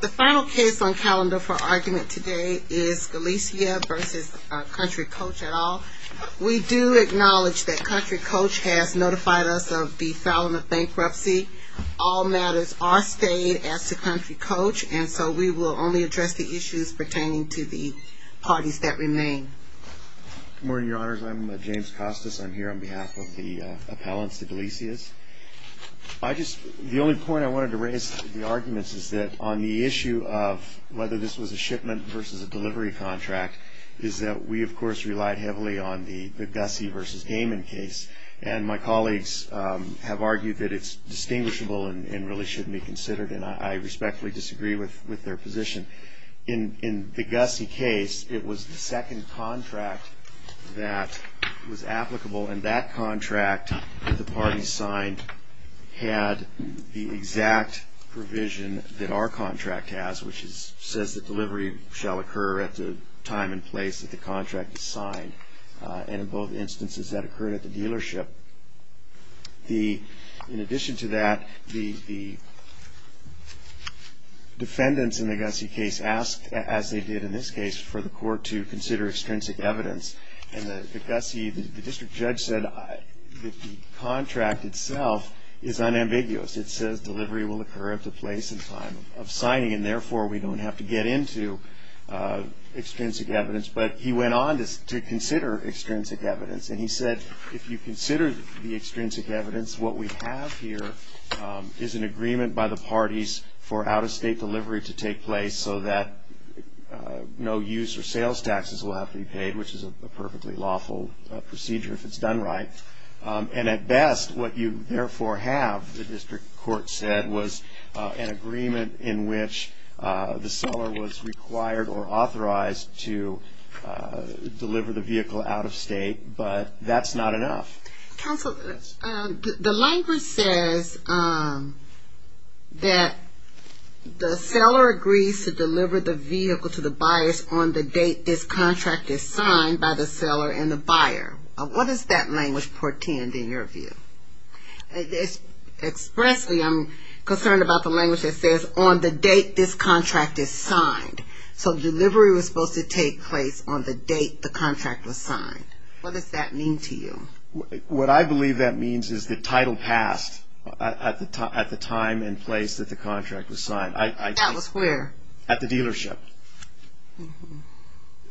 The final case on calendar for argument today is Galicia v. Country Coach, et al. We do acknowledge that Country Coach has notified us of the filing of bankruptcy. All matters are stayed as to Country Coach, and so we will only address the issues pertaining to the parties that remain. Good morning, Your Honors. I'm James Costas. I'm here on behalf of the appellants to Galicia's. The only point I wanted to raise with the arguments is that on the issue of whether this was a shipment versus a delivery contract is that we, of course, relied heavily on the Gussie v. Gaiman case, and my colleagues have argued that it's distinguishable and really shouldn't be considered, and I respectfully disagree with their position. In the Gussie case, it was the second contract that was applicable, and that contract the parties signed had the exact provision that our contract has, which says that delivery shall occur at the time and place that the contract is signed, and in both instances that occurred at the dealership. In addition to that, the defendants in the Gussie case asked, as they did in this case, for the court to consider extrinsic evidence, and the district judge said that the contract itself is unambiguous. It says delivery will occur at the place and time of signing, and therefore we don't have to get into extrinsic evidence, but he went on to consider extrinsic evidence, and he said if you consider the extrinsic evidence, what we have here is an agreement by the parties for out-of-state delivery to take place so that no use or sales taxes will have to be paid, which is a perfectly lawful procedure if it's done right, and at best what you therefore have, the district court said, was an agreement in which the seller was required or authorized to deliver the vehicle out-of-state, but that's not enough. Counsel, the language says that the seller agrees to deliver the vehicle to the buyers on the date this contract is signed by the seller and the buyer. What does that language portend in your view? Expressly, I'm concerned about the language that says on the date this contract is signed, so delivery was supposed to take place on the date the contract was signed. What does that mean to you? What I believe that means is the title passed at the time and place that the contract was signed. That was where? At the dealership.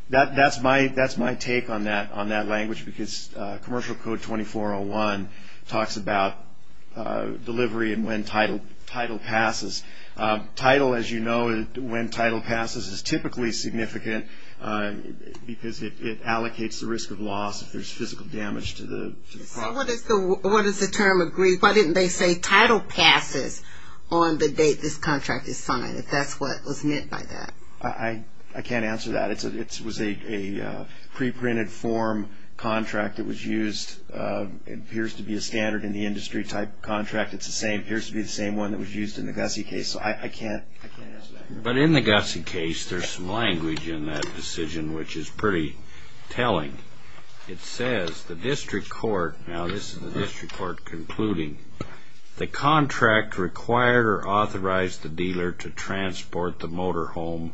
That's my take on that language because Commercial Code 2401 talks about delivery and when title passes. Title, as you know, when title passes is typically significant because it allocates the risk of loss if there's physical damage to the product. So what does the term agree? Why didn't they say title passes on the date this contract is signed if that's what was meant by that? I can't answer that. It was a pre-printed form contract that was used. It appears to be a standard in the industry type contract. It appears to be the same one that was used in the Gussie case, so I can't answer that. But in the Gussie case, there's some language in that decision which is pretty telling. It says the district court, now this is the district court concluding, the contract required or authorized the dealer to transport the motorhome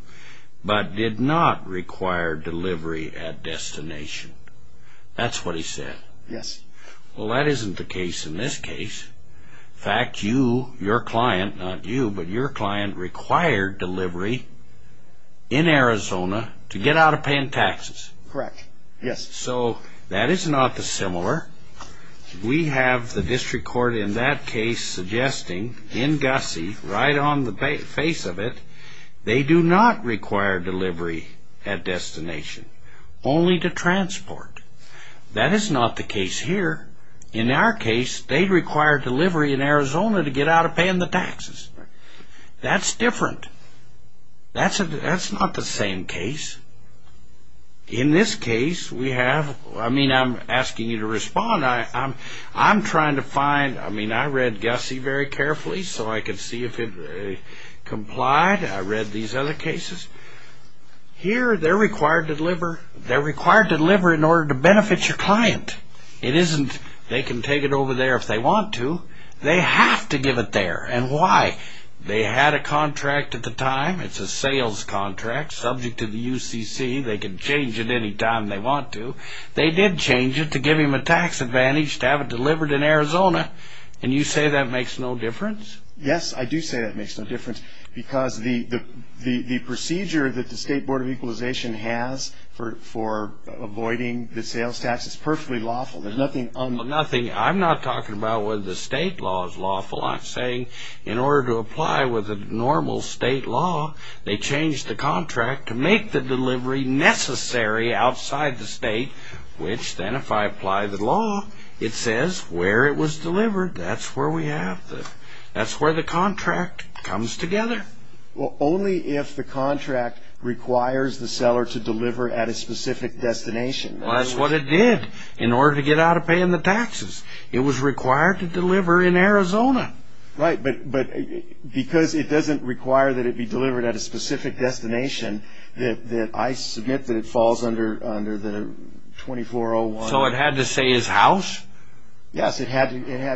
but did not require delivery at destination. That's what he said. Yes. Well, that isn't the case in this case. In fact, you, your client, not you, but your client required delivery in Arizona to get out of paying taxes. Correct, yes. So that is not dissimilar. We have the district court in that case suggesting in Gussie, right on the face of it, they do not require delivery at destination, only to transport. That is not the case here. In our case, they require delivery in Arizona to get out of paying the taxes. That's different. That's not the same case. In this case, we have, I mean, I'm asking you to respond. I'm trying to find, I mean, I read Gussie very carefully so I could see if it complied. I read these other cases. Here, they're required to deliver. They're required to deliver in order to benefit your client. It isn't they can take it over there if they want to. They have to give it there. And why? They had a contract at the time. It's a sales contract subject to the UCC. They can change it any time they want to. They did change it to give him a tax advantage to have it delivered in Arizona. And you say that makes no difference? Yes, I do say that makes no difference because the procedure that the State Board of Equalization has for avoiding the sales tax is perfectly lawful. There's nothing unlawful. Nothing. I'm not talking about whether the state law is lawful. I'm saying in order to apply with a normal state law, they changed the contract to make the delivery necessary outside the state, which then if I apply the law, it says where it was delivered. That's where we have the, that's where the contract comes together. Well, only if the contract requires the seller to deliver at a specific destination. Well, that's what it did in order to get out of paying the taxes. It was required to deliver in Arizona. Right, but because it doesn't require that it be delivered at a specific destination, that I submit that it falls under the 2401. So it had to say his house? Yes, it had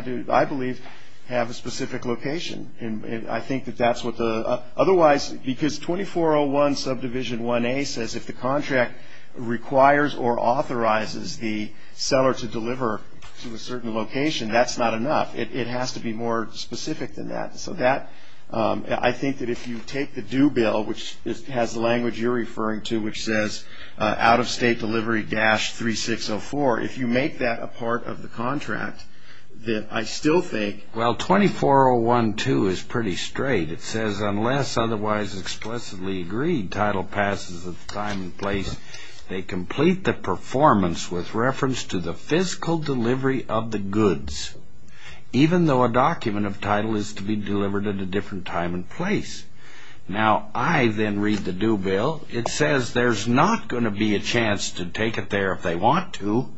to, I believe, have a specific location. And I think that that's what the, otherwise, because 2401 subdivision 1A says if the contract requires or authorizes the seller to deliver to a certain location, that's not enough. It has to be more specific than that. So that, I think that if you take the due bill, which has the language you're referring to, which says out-of-state delivery dash 3604, if you make that a part of the contract, that I still think. Well, 2401.2 is pretty straight. It says unless otherwise explicitly agreed, title passes with time and place. They complete the performance with reference to the fiscal delivery of the goods, even though a document of title is to be delivered at a different time and place. Now, I then read the due bill. It says there's not going to be a chance to take it there if they want to.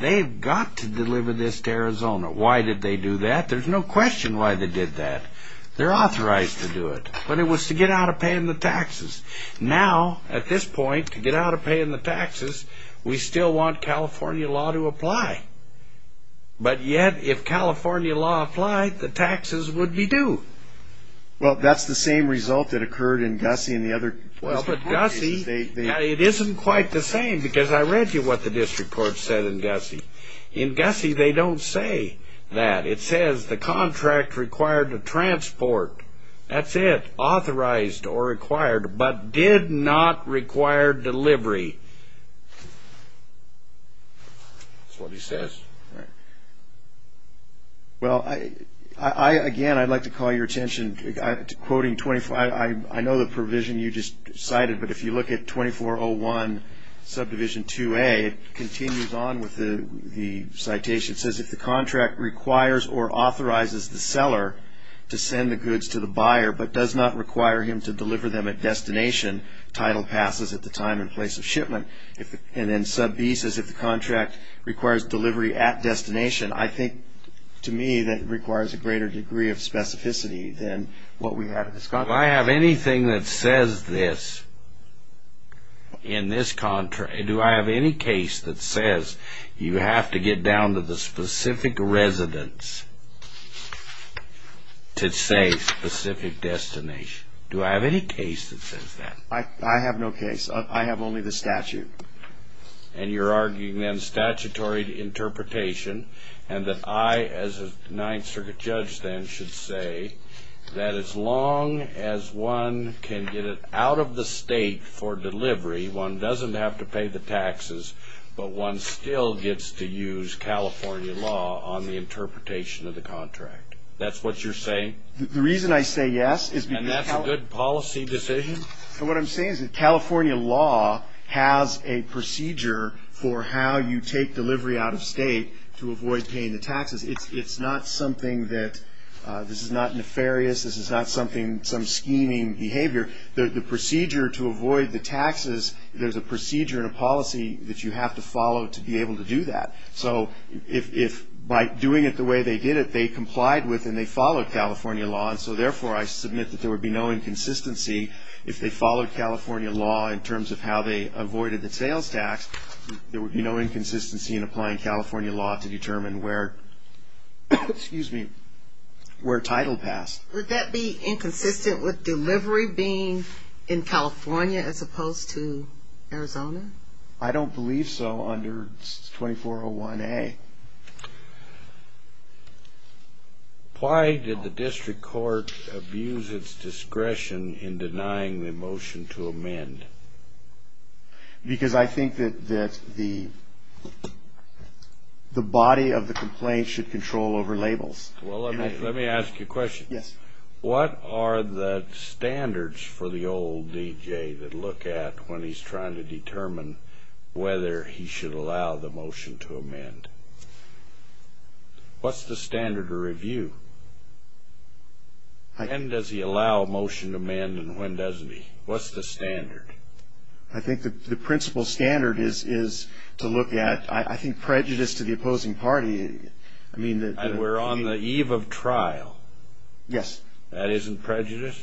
They've got to deliver this to Arizona. Why did they do that? There's no question why they did that. They're authorized to do it. But it was to get out of paying the taxes. Now, at this point, to get out of paying the taxes, we still want California law to apply. But yet, if California law applied, the taxes would be due. Well, that's the same result that occurred in Gussie and the other states. Well, but Gussie, it isn't quite the same, because I read you what the district court said in Gussie. In Gussie, they don't say that. It says the contract required to transport, that's it, authorized or required, but did not require delivery. That's what he says. Well, again, I'd like to call your attention to quoting, I know the provision you just cited, but if you look at 2401 Subdivision 2A, it continues on with the citation. It says if the contract requires or authorizes the seller to send the goods to the buyer, but does not require him to deliver them at destination, title passes at the time and place of shipment. And then Sub B says if the contract requires delivery at destination, I think to me that requires a greater degree of specificity than what we have at this time. If I have anything that says this in this contract, do I have any case that says you have to get down to the specific residence to say specific destination? Do I have any case that says that? I have no case. I have only the statute. And you're arguing then statutory interpretation, and that I as a Ninth Circuit judge then should say that as long as one can get it out of the state for delivery, one doesn't have to pay the taxes, but one still gets to use California law on the interpretation of the contract. That's what you're saying? The reason I say yes is because California law has a procedure for how you take delivery out of state to avoid paying the taxes. It's not something that this is not nefarious. This is not something, some scheming behavior. The procedure to avoid the taxes, there's a procedure and a policy that you have to follow to be able to do that. So if by doing it the way they did it, they complied with and they followed California law, and so therefore I submit that there would be no inconsistency if they followed California law in terms of how they avoided the sales tax. There would be no inconsistency in applying California law to determine where title passed. Would that be inconsistent with delivery being in California as opposed to Arizona? I don't believe so under 2401A. Why did the district court abuse its discretion in denying the motion to amend? Because I think that the body of the complaint should control over labels. Well, let me ask you a question. Yes. What are the standards for the old D.J. that look at when he's trying to determine whether he should allow the motion to amend? What's the standard of review? When does he allow a motion to amend and when doesn't he? What's the standard? I think the principal standard is to look at, I think, prejudice to the opposing party. We're on the eve of trial. Yes. That isn't prejudice?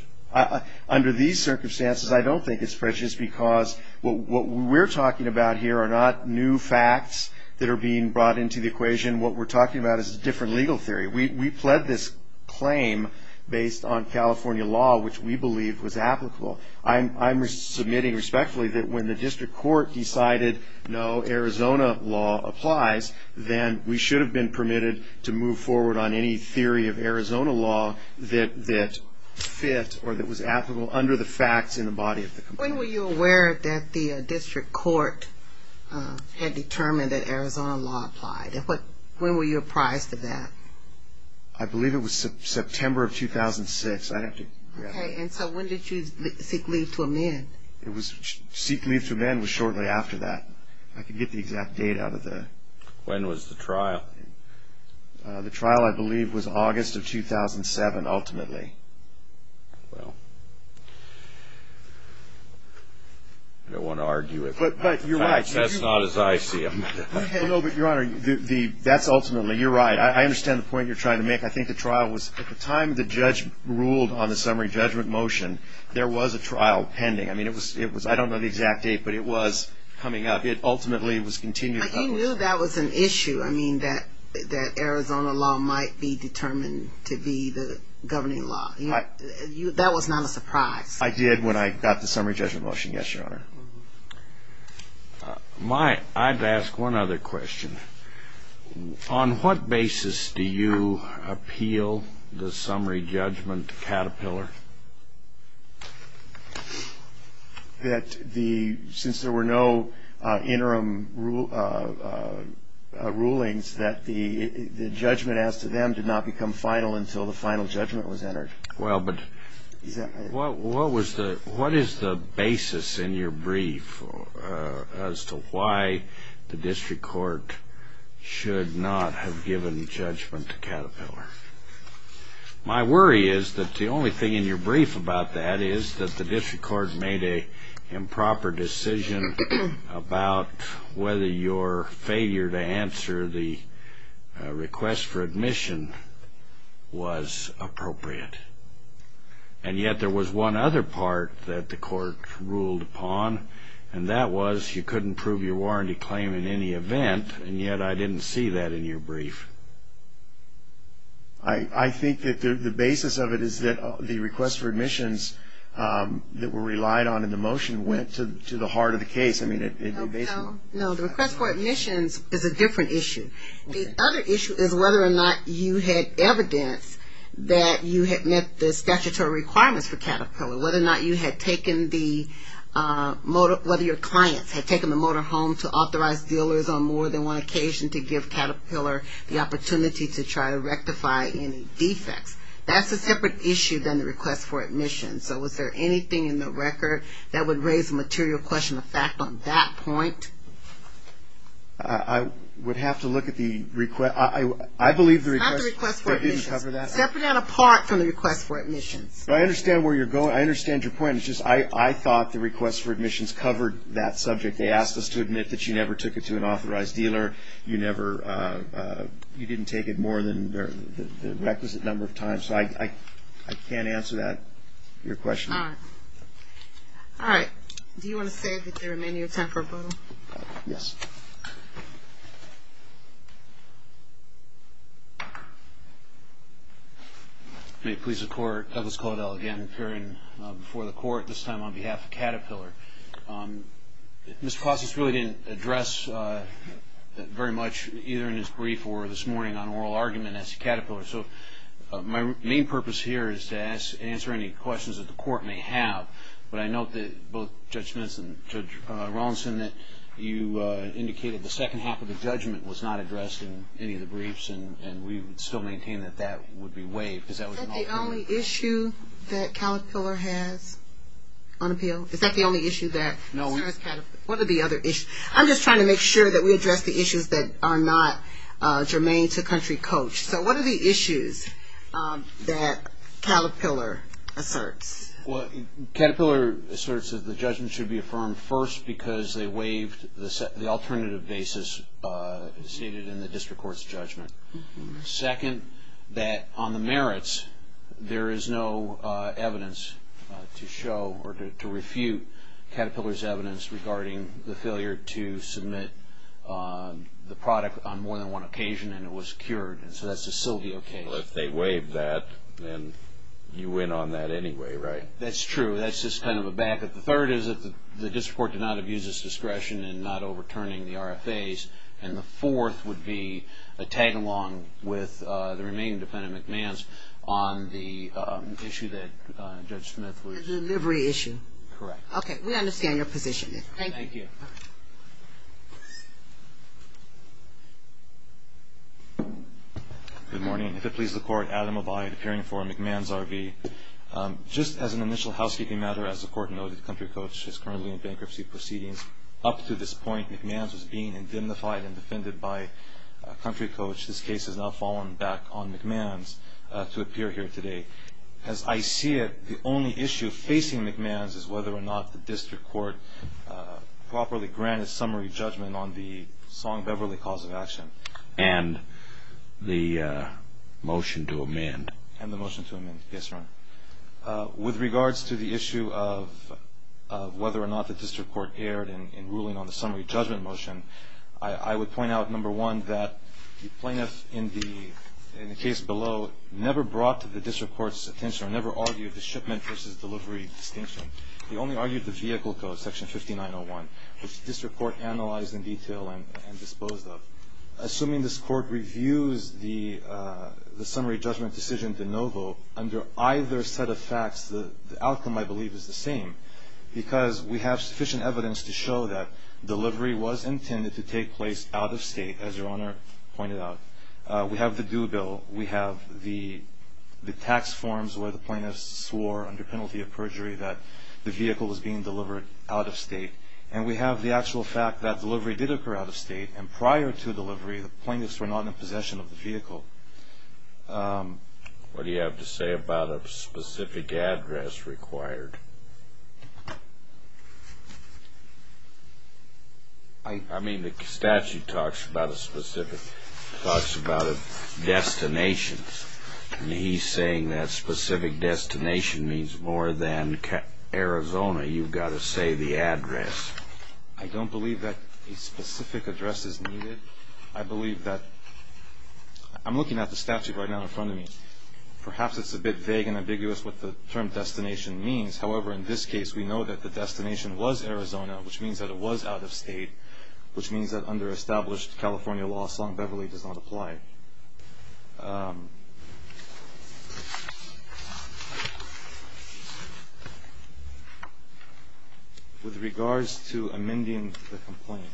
Under these circumstances, I don't think it's prejudice because what we're talking about here are not new facts that are being brought into the equation. What we're talking about is a different legal theory. We pled this claim based on California law, which we believe was applicable. I'm submitting respectfully that when the district court decided no, Arizona law applies, then we should have been permitted to move forward on any theory of Arizona law that fit or that was applicable under the facts in the body of the complaint. When were you aware that the district court had determined that Arizona law applied? When were you apprised of that? I believe it was September of 2006. Okay. And so when did you seek leave to amend? Seek leave to amend was shortly after that. I can get the exact date out of there. When was the trial? The trial, I believe, was August of 2007, ultimately. Well, I don't want to argue with that. But you're right. That's not as I see them. No, but, Your Honor, that's ultimately, you're right. I understand the point you're trying to make. I think the trial was, at the time the judge ruled on the summary judgment motion, there was a trial pending. I mean, it was, I don't know the exact date, but it was coming up. It ultimately was continued. But you knew that was an issue, I mean, that Arizona law might be determined to be the governing law. That was not a surprise. I did when I got the summary judgment motion, yes, Your Honor. My, I'd ask one other question. On what basis do you appeal the summary judgment to Caterpillar? That the, since there were no interim rulings, that the judgment as to them did not become final until the final judgment was entered. Well, but what was the, what is the basis in your brief as to why the district court should not have given judgment to Caterpillar? My worry is that the only thing in your brief about that is that the district court made an improper decision about whether your failure to answer the request for admission was appropriate. And yet there was one other part that the court ruled upon, and that was you couldn't prove your warranty claim in any event, and yet I didn't see that in your brief. I think that the basis of it is that the request for admissions that were relied on in the motion went to the heart of the case. No, the request for admissions is a different issue. The other issue is whether or not you had evidence that you had met the statutory requirements for Caterpillar, whether or not you had taken the, whether your clients had taken the motor home to authorize dealers on more than one occasion to give Caterpillar the opportunity to try to rectify any defects. That's a separate issue than the request for admission. So was there anything in the record that would raise a material question of fact on that point? I would have to look at the request. I believe the request didn't cover that. Not the request for admissions. Separate and apart from the request for admissions. I understand where you're going. I understand your point. It's just I thought the request for admissions covered that subject. They asked us to admit that you never took it to an authorized dealer. You never, you didn't take it more than the requisite number of times. So I can't answer that, your question. All right. All right. Do you want to say that there remain no time for a vote? Yes. May it please the Court, Douglas Caudill again appearing before the Court, this time on behalf of Caterpillar. Mr. Costas really didn't address very much either in his brief or this morning on oral argument as to Caterpillar. So my main purpose here is to answer any questions that the Court may have. But I note that both Judge Mintz and Judge Rawlinson, that you indicated the second half of the judgment was not addressed in any of the briefs and we would still maintain that that would be waived because that would be an alternative. Is that the only issue that Caterpillar has on appeal? Is that the only issue that? No. What are the other issues? I'm just trying to make sure that we address the issues that are not germane to country coach. So what are the issues that Caterpillar asserts? Well, Caterpillar asserts that the judgment should be affirmed first because they waived the alternative basis stated in the district court's judgment. Second, that on the merits there is no evidence to show or to refute Caterpillar's evidence regarding the failure to submit the product on more than one occasion and it was cured, and so that's a Sylvia case. Well, if they waived that, then you win on that anyway, right? That's true. That's just kind of a backup. The third is that the district court did not abuse its discretion in not overturning the RFAs. And the fourth would be a tag-along with the remaining defendant, McMahons, on the issue that Judge Smith was. The delivery issue. Correct. Okay. We understand your position. Thank you. Thank you. Good morning. If it pleases the Court, Adam Abai, appearing for McMahons RV. Just as an initial housekeeping matter, as the Court noted, Country Coach is currently in bankruptcy proceedings. Up to this point, McMahons was being indemnified and defended by Country Coach. This case has now fallen back on McMahons to appear here today. As I see it, the only issue facing McMahons is whether or not the district court properly granted summary judgment on the Song-Beverly cause of action. And the motion to amend. And the motion to amend. Yes, Your Honor. With regards to the issue of whether or not the district court erred in ruling on the summary judgment motion, I would point out, number one, that the plaintiff in the case below never brought to the district court's attention or never argued the shipment versus delivery distinction. He only argued the vehicle code, Section 5901, which the district court analyzed in detail and disposed of. Assuming this Court reviews the summary judgment decision de novo, under either set of facts, the outcome, I believe, is the same because we have sufficient evidence to show that delivery was intended to take place out of state, as Your Honor pointed out. We have the due bill. We have the tax forms where the plaintiff swore under penalty of perjury that the vehicle was being delivered out of state. And we have the actual fact that delivery did occur out of state. And prior to delivery, the plaintiffs were not in possession of the vehicle. What do you have to say about a specific address required? I mean, the statute talks about a specific destination. And he's saying that specific destination means more than Arizona. You've got to say the address. I don't believe that a specific address is needed. I believe that I'm looking at the statute right now in front of me. Perhaps it's a bit vague and ambiguous what the term destination means. However, in this case, we know that the destination was Arizona, which means that it was out of state, which means that under established California law, Song Beverly does not apply. With regards to amending the complaint,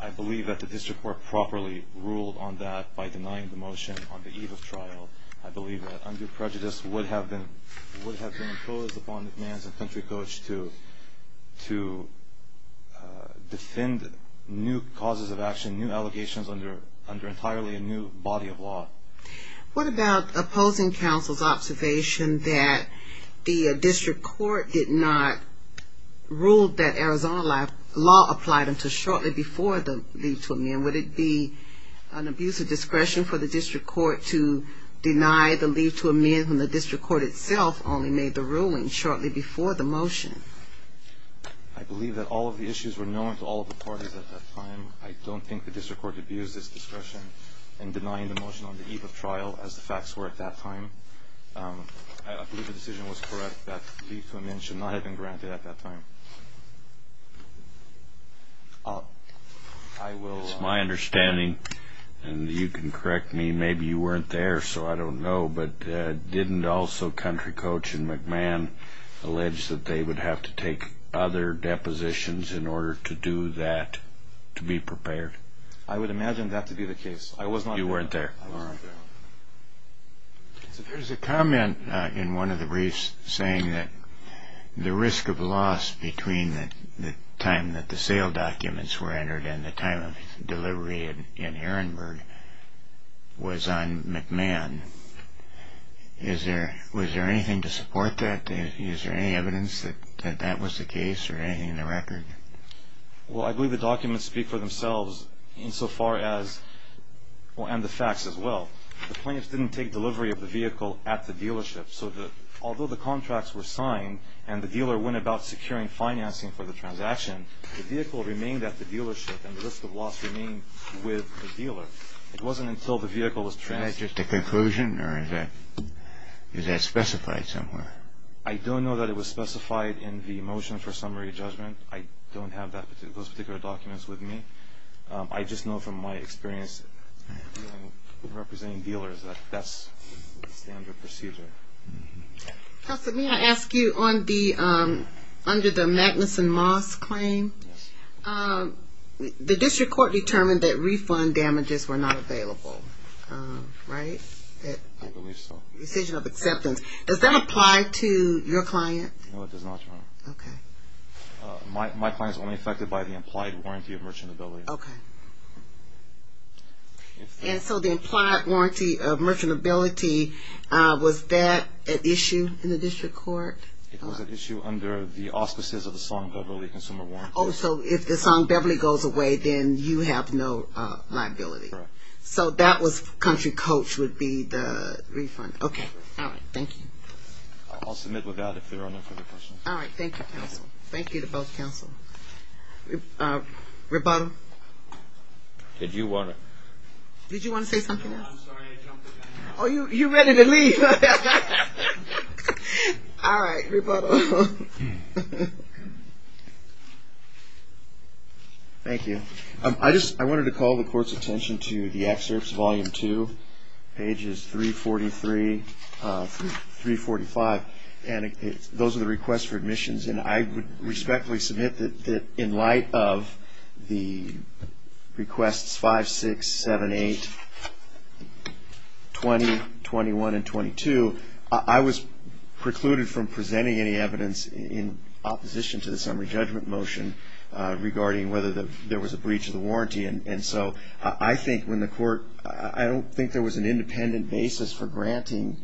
I believe that the district court properly ruled on that by denying the motion on the eve of trial. I believe that undue prejudice would have been imposed upon the mans and country coach to defend new causes of action, new allegations under entirely a new body of law. What about opposing counsel's observation that the district court did not rule that Arizona law applied until shortly before the leave to amend? And would it be an abuse of discretion for the district court to deny the leave to amend when the district court itself only made the ruling shortly before the motion? I believe that all of the issues were known to all of the parties at that time. I don't think the district court abused its discretion in denying the motion on the eve of trial, as the facts were at that time. I believe the decision was correct that leave to amend should not have been granted at that time. That's my understanding, and you can correct me. Maybe you weren't there, so I don't know. But didn't also country coach and McMahon allege that they would have to take other depositions in order to do that, to be prepared? I would imagine that to be the case. You weren't there. I wasn't there. There's a comment in one of the briefs saying that the risk of loss between the time that the sale documents were entered and the time of delivery in Herrenberg was on McMahon. Was there anything to support that? Is there any evidence that that was the case or anything in the record? Well, I believe the documents speak for themselves insofar as, well, and the facts as well. The plaintiffs didn't take delivery of the vehicle at the dealership, so although the contracts were signed and the dealer went about securing financing for the transaction, the vehicle remained at the dealership and the risk of loss remained with the dealer. It wasn't until the vehicle was transferred. And that's just a conclusion, or is that specified somewhere? I don't know that it was specified in the motion for summary judgment. I don't have those particular documents with me. I just know from my experience representing dealers that that's the standard procedure. Counsel, may I ask you under the Magnuson Moss claim, the district court determined that refund damages were not available, right? I believe so. Decision of acceptance. Does that apply to your client? No, it does not, Your Honor. Okay. My client is only affected by the implied warranty of merchantability. Okay. And so the implied warranty of merchantability, was that an issue in the district court? It was an issue under the auspices of the Song-Beverly Consumer Warrant. Oh, so if the Song-Beverly goes away, then you have no liability. Correct. So that was country coach would be the refund. Okay. All right. Thank you. I'll submit with that if there are no further questions. All right. Thank you, counsel. Thank you to both counsel. Rebuttal? Did you want to? Did you want to say something else? No, I'm sorry. I jumped the gun. Oh, you're ready to leave. All right. Rebuttal. Thank you. I wanted to call the court's attention to the excerpts, volume two, pages 343, 345. And those are the requests for admissions. And I would respectfully submit that in light of the requests 5, 6, 7, 8, 20, 21, and 22, I was precluded from presenting any evidence in opposition to the summary judgment motion regarding whether there was a breach of the warranty. And so I think when the court, I don't think there was an independent basis for granting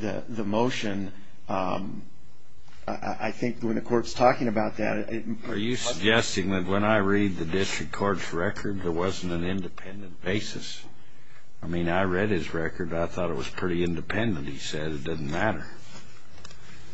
the motion. I think when the court's talking about that. Are you suggesting that when I read the district court's record, there wasn't an independent basis? I mean, I read his record. I thought it was pretty independent. He said it doesn't matter.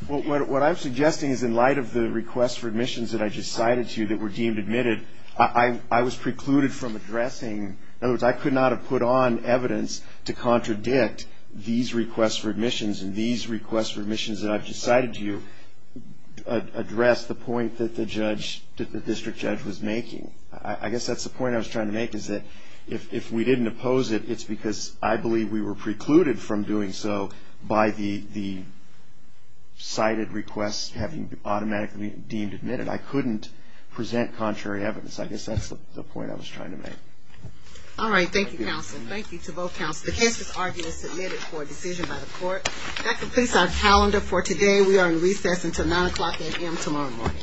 Well, what I'm suggesting is in light of the requests for admissions that I just cited to you that were deemed admitted, I was precluded from addressing. In other words, I could not have put on evidence to contradict these requests for admissions and these requests for admissions that I've just cited to you address the point that the district judge was making. I guess that's the point I was trying to make is that if we didn't oppose it, it's because I believe we were precluded from doing so by the cited requests having automatically deemed admitted. I couldn't present contrary evidence. I guess that's the point I was trying to make. All right. Thank you, counsel. Thank you to both counsels. The case is submitted for a decision by the court. That completes our calendar for today. We are in recess until 9 o'clock a.m. tomorrow morning. All right. Court stands in recess until 9 o'clock tomorrow morning.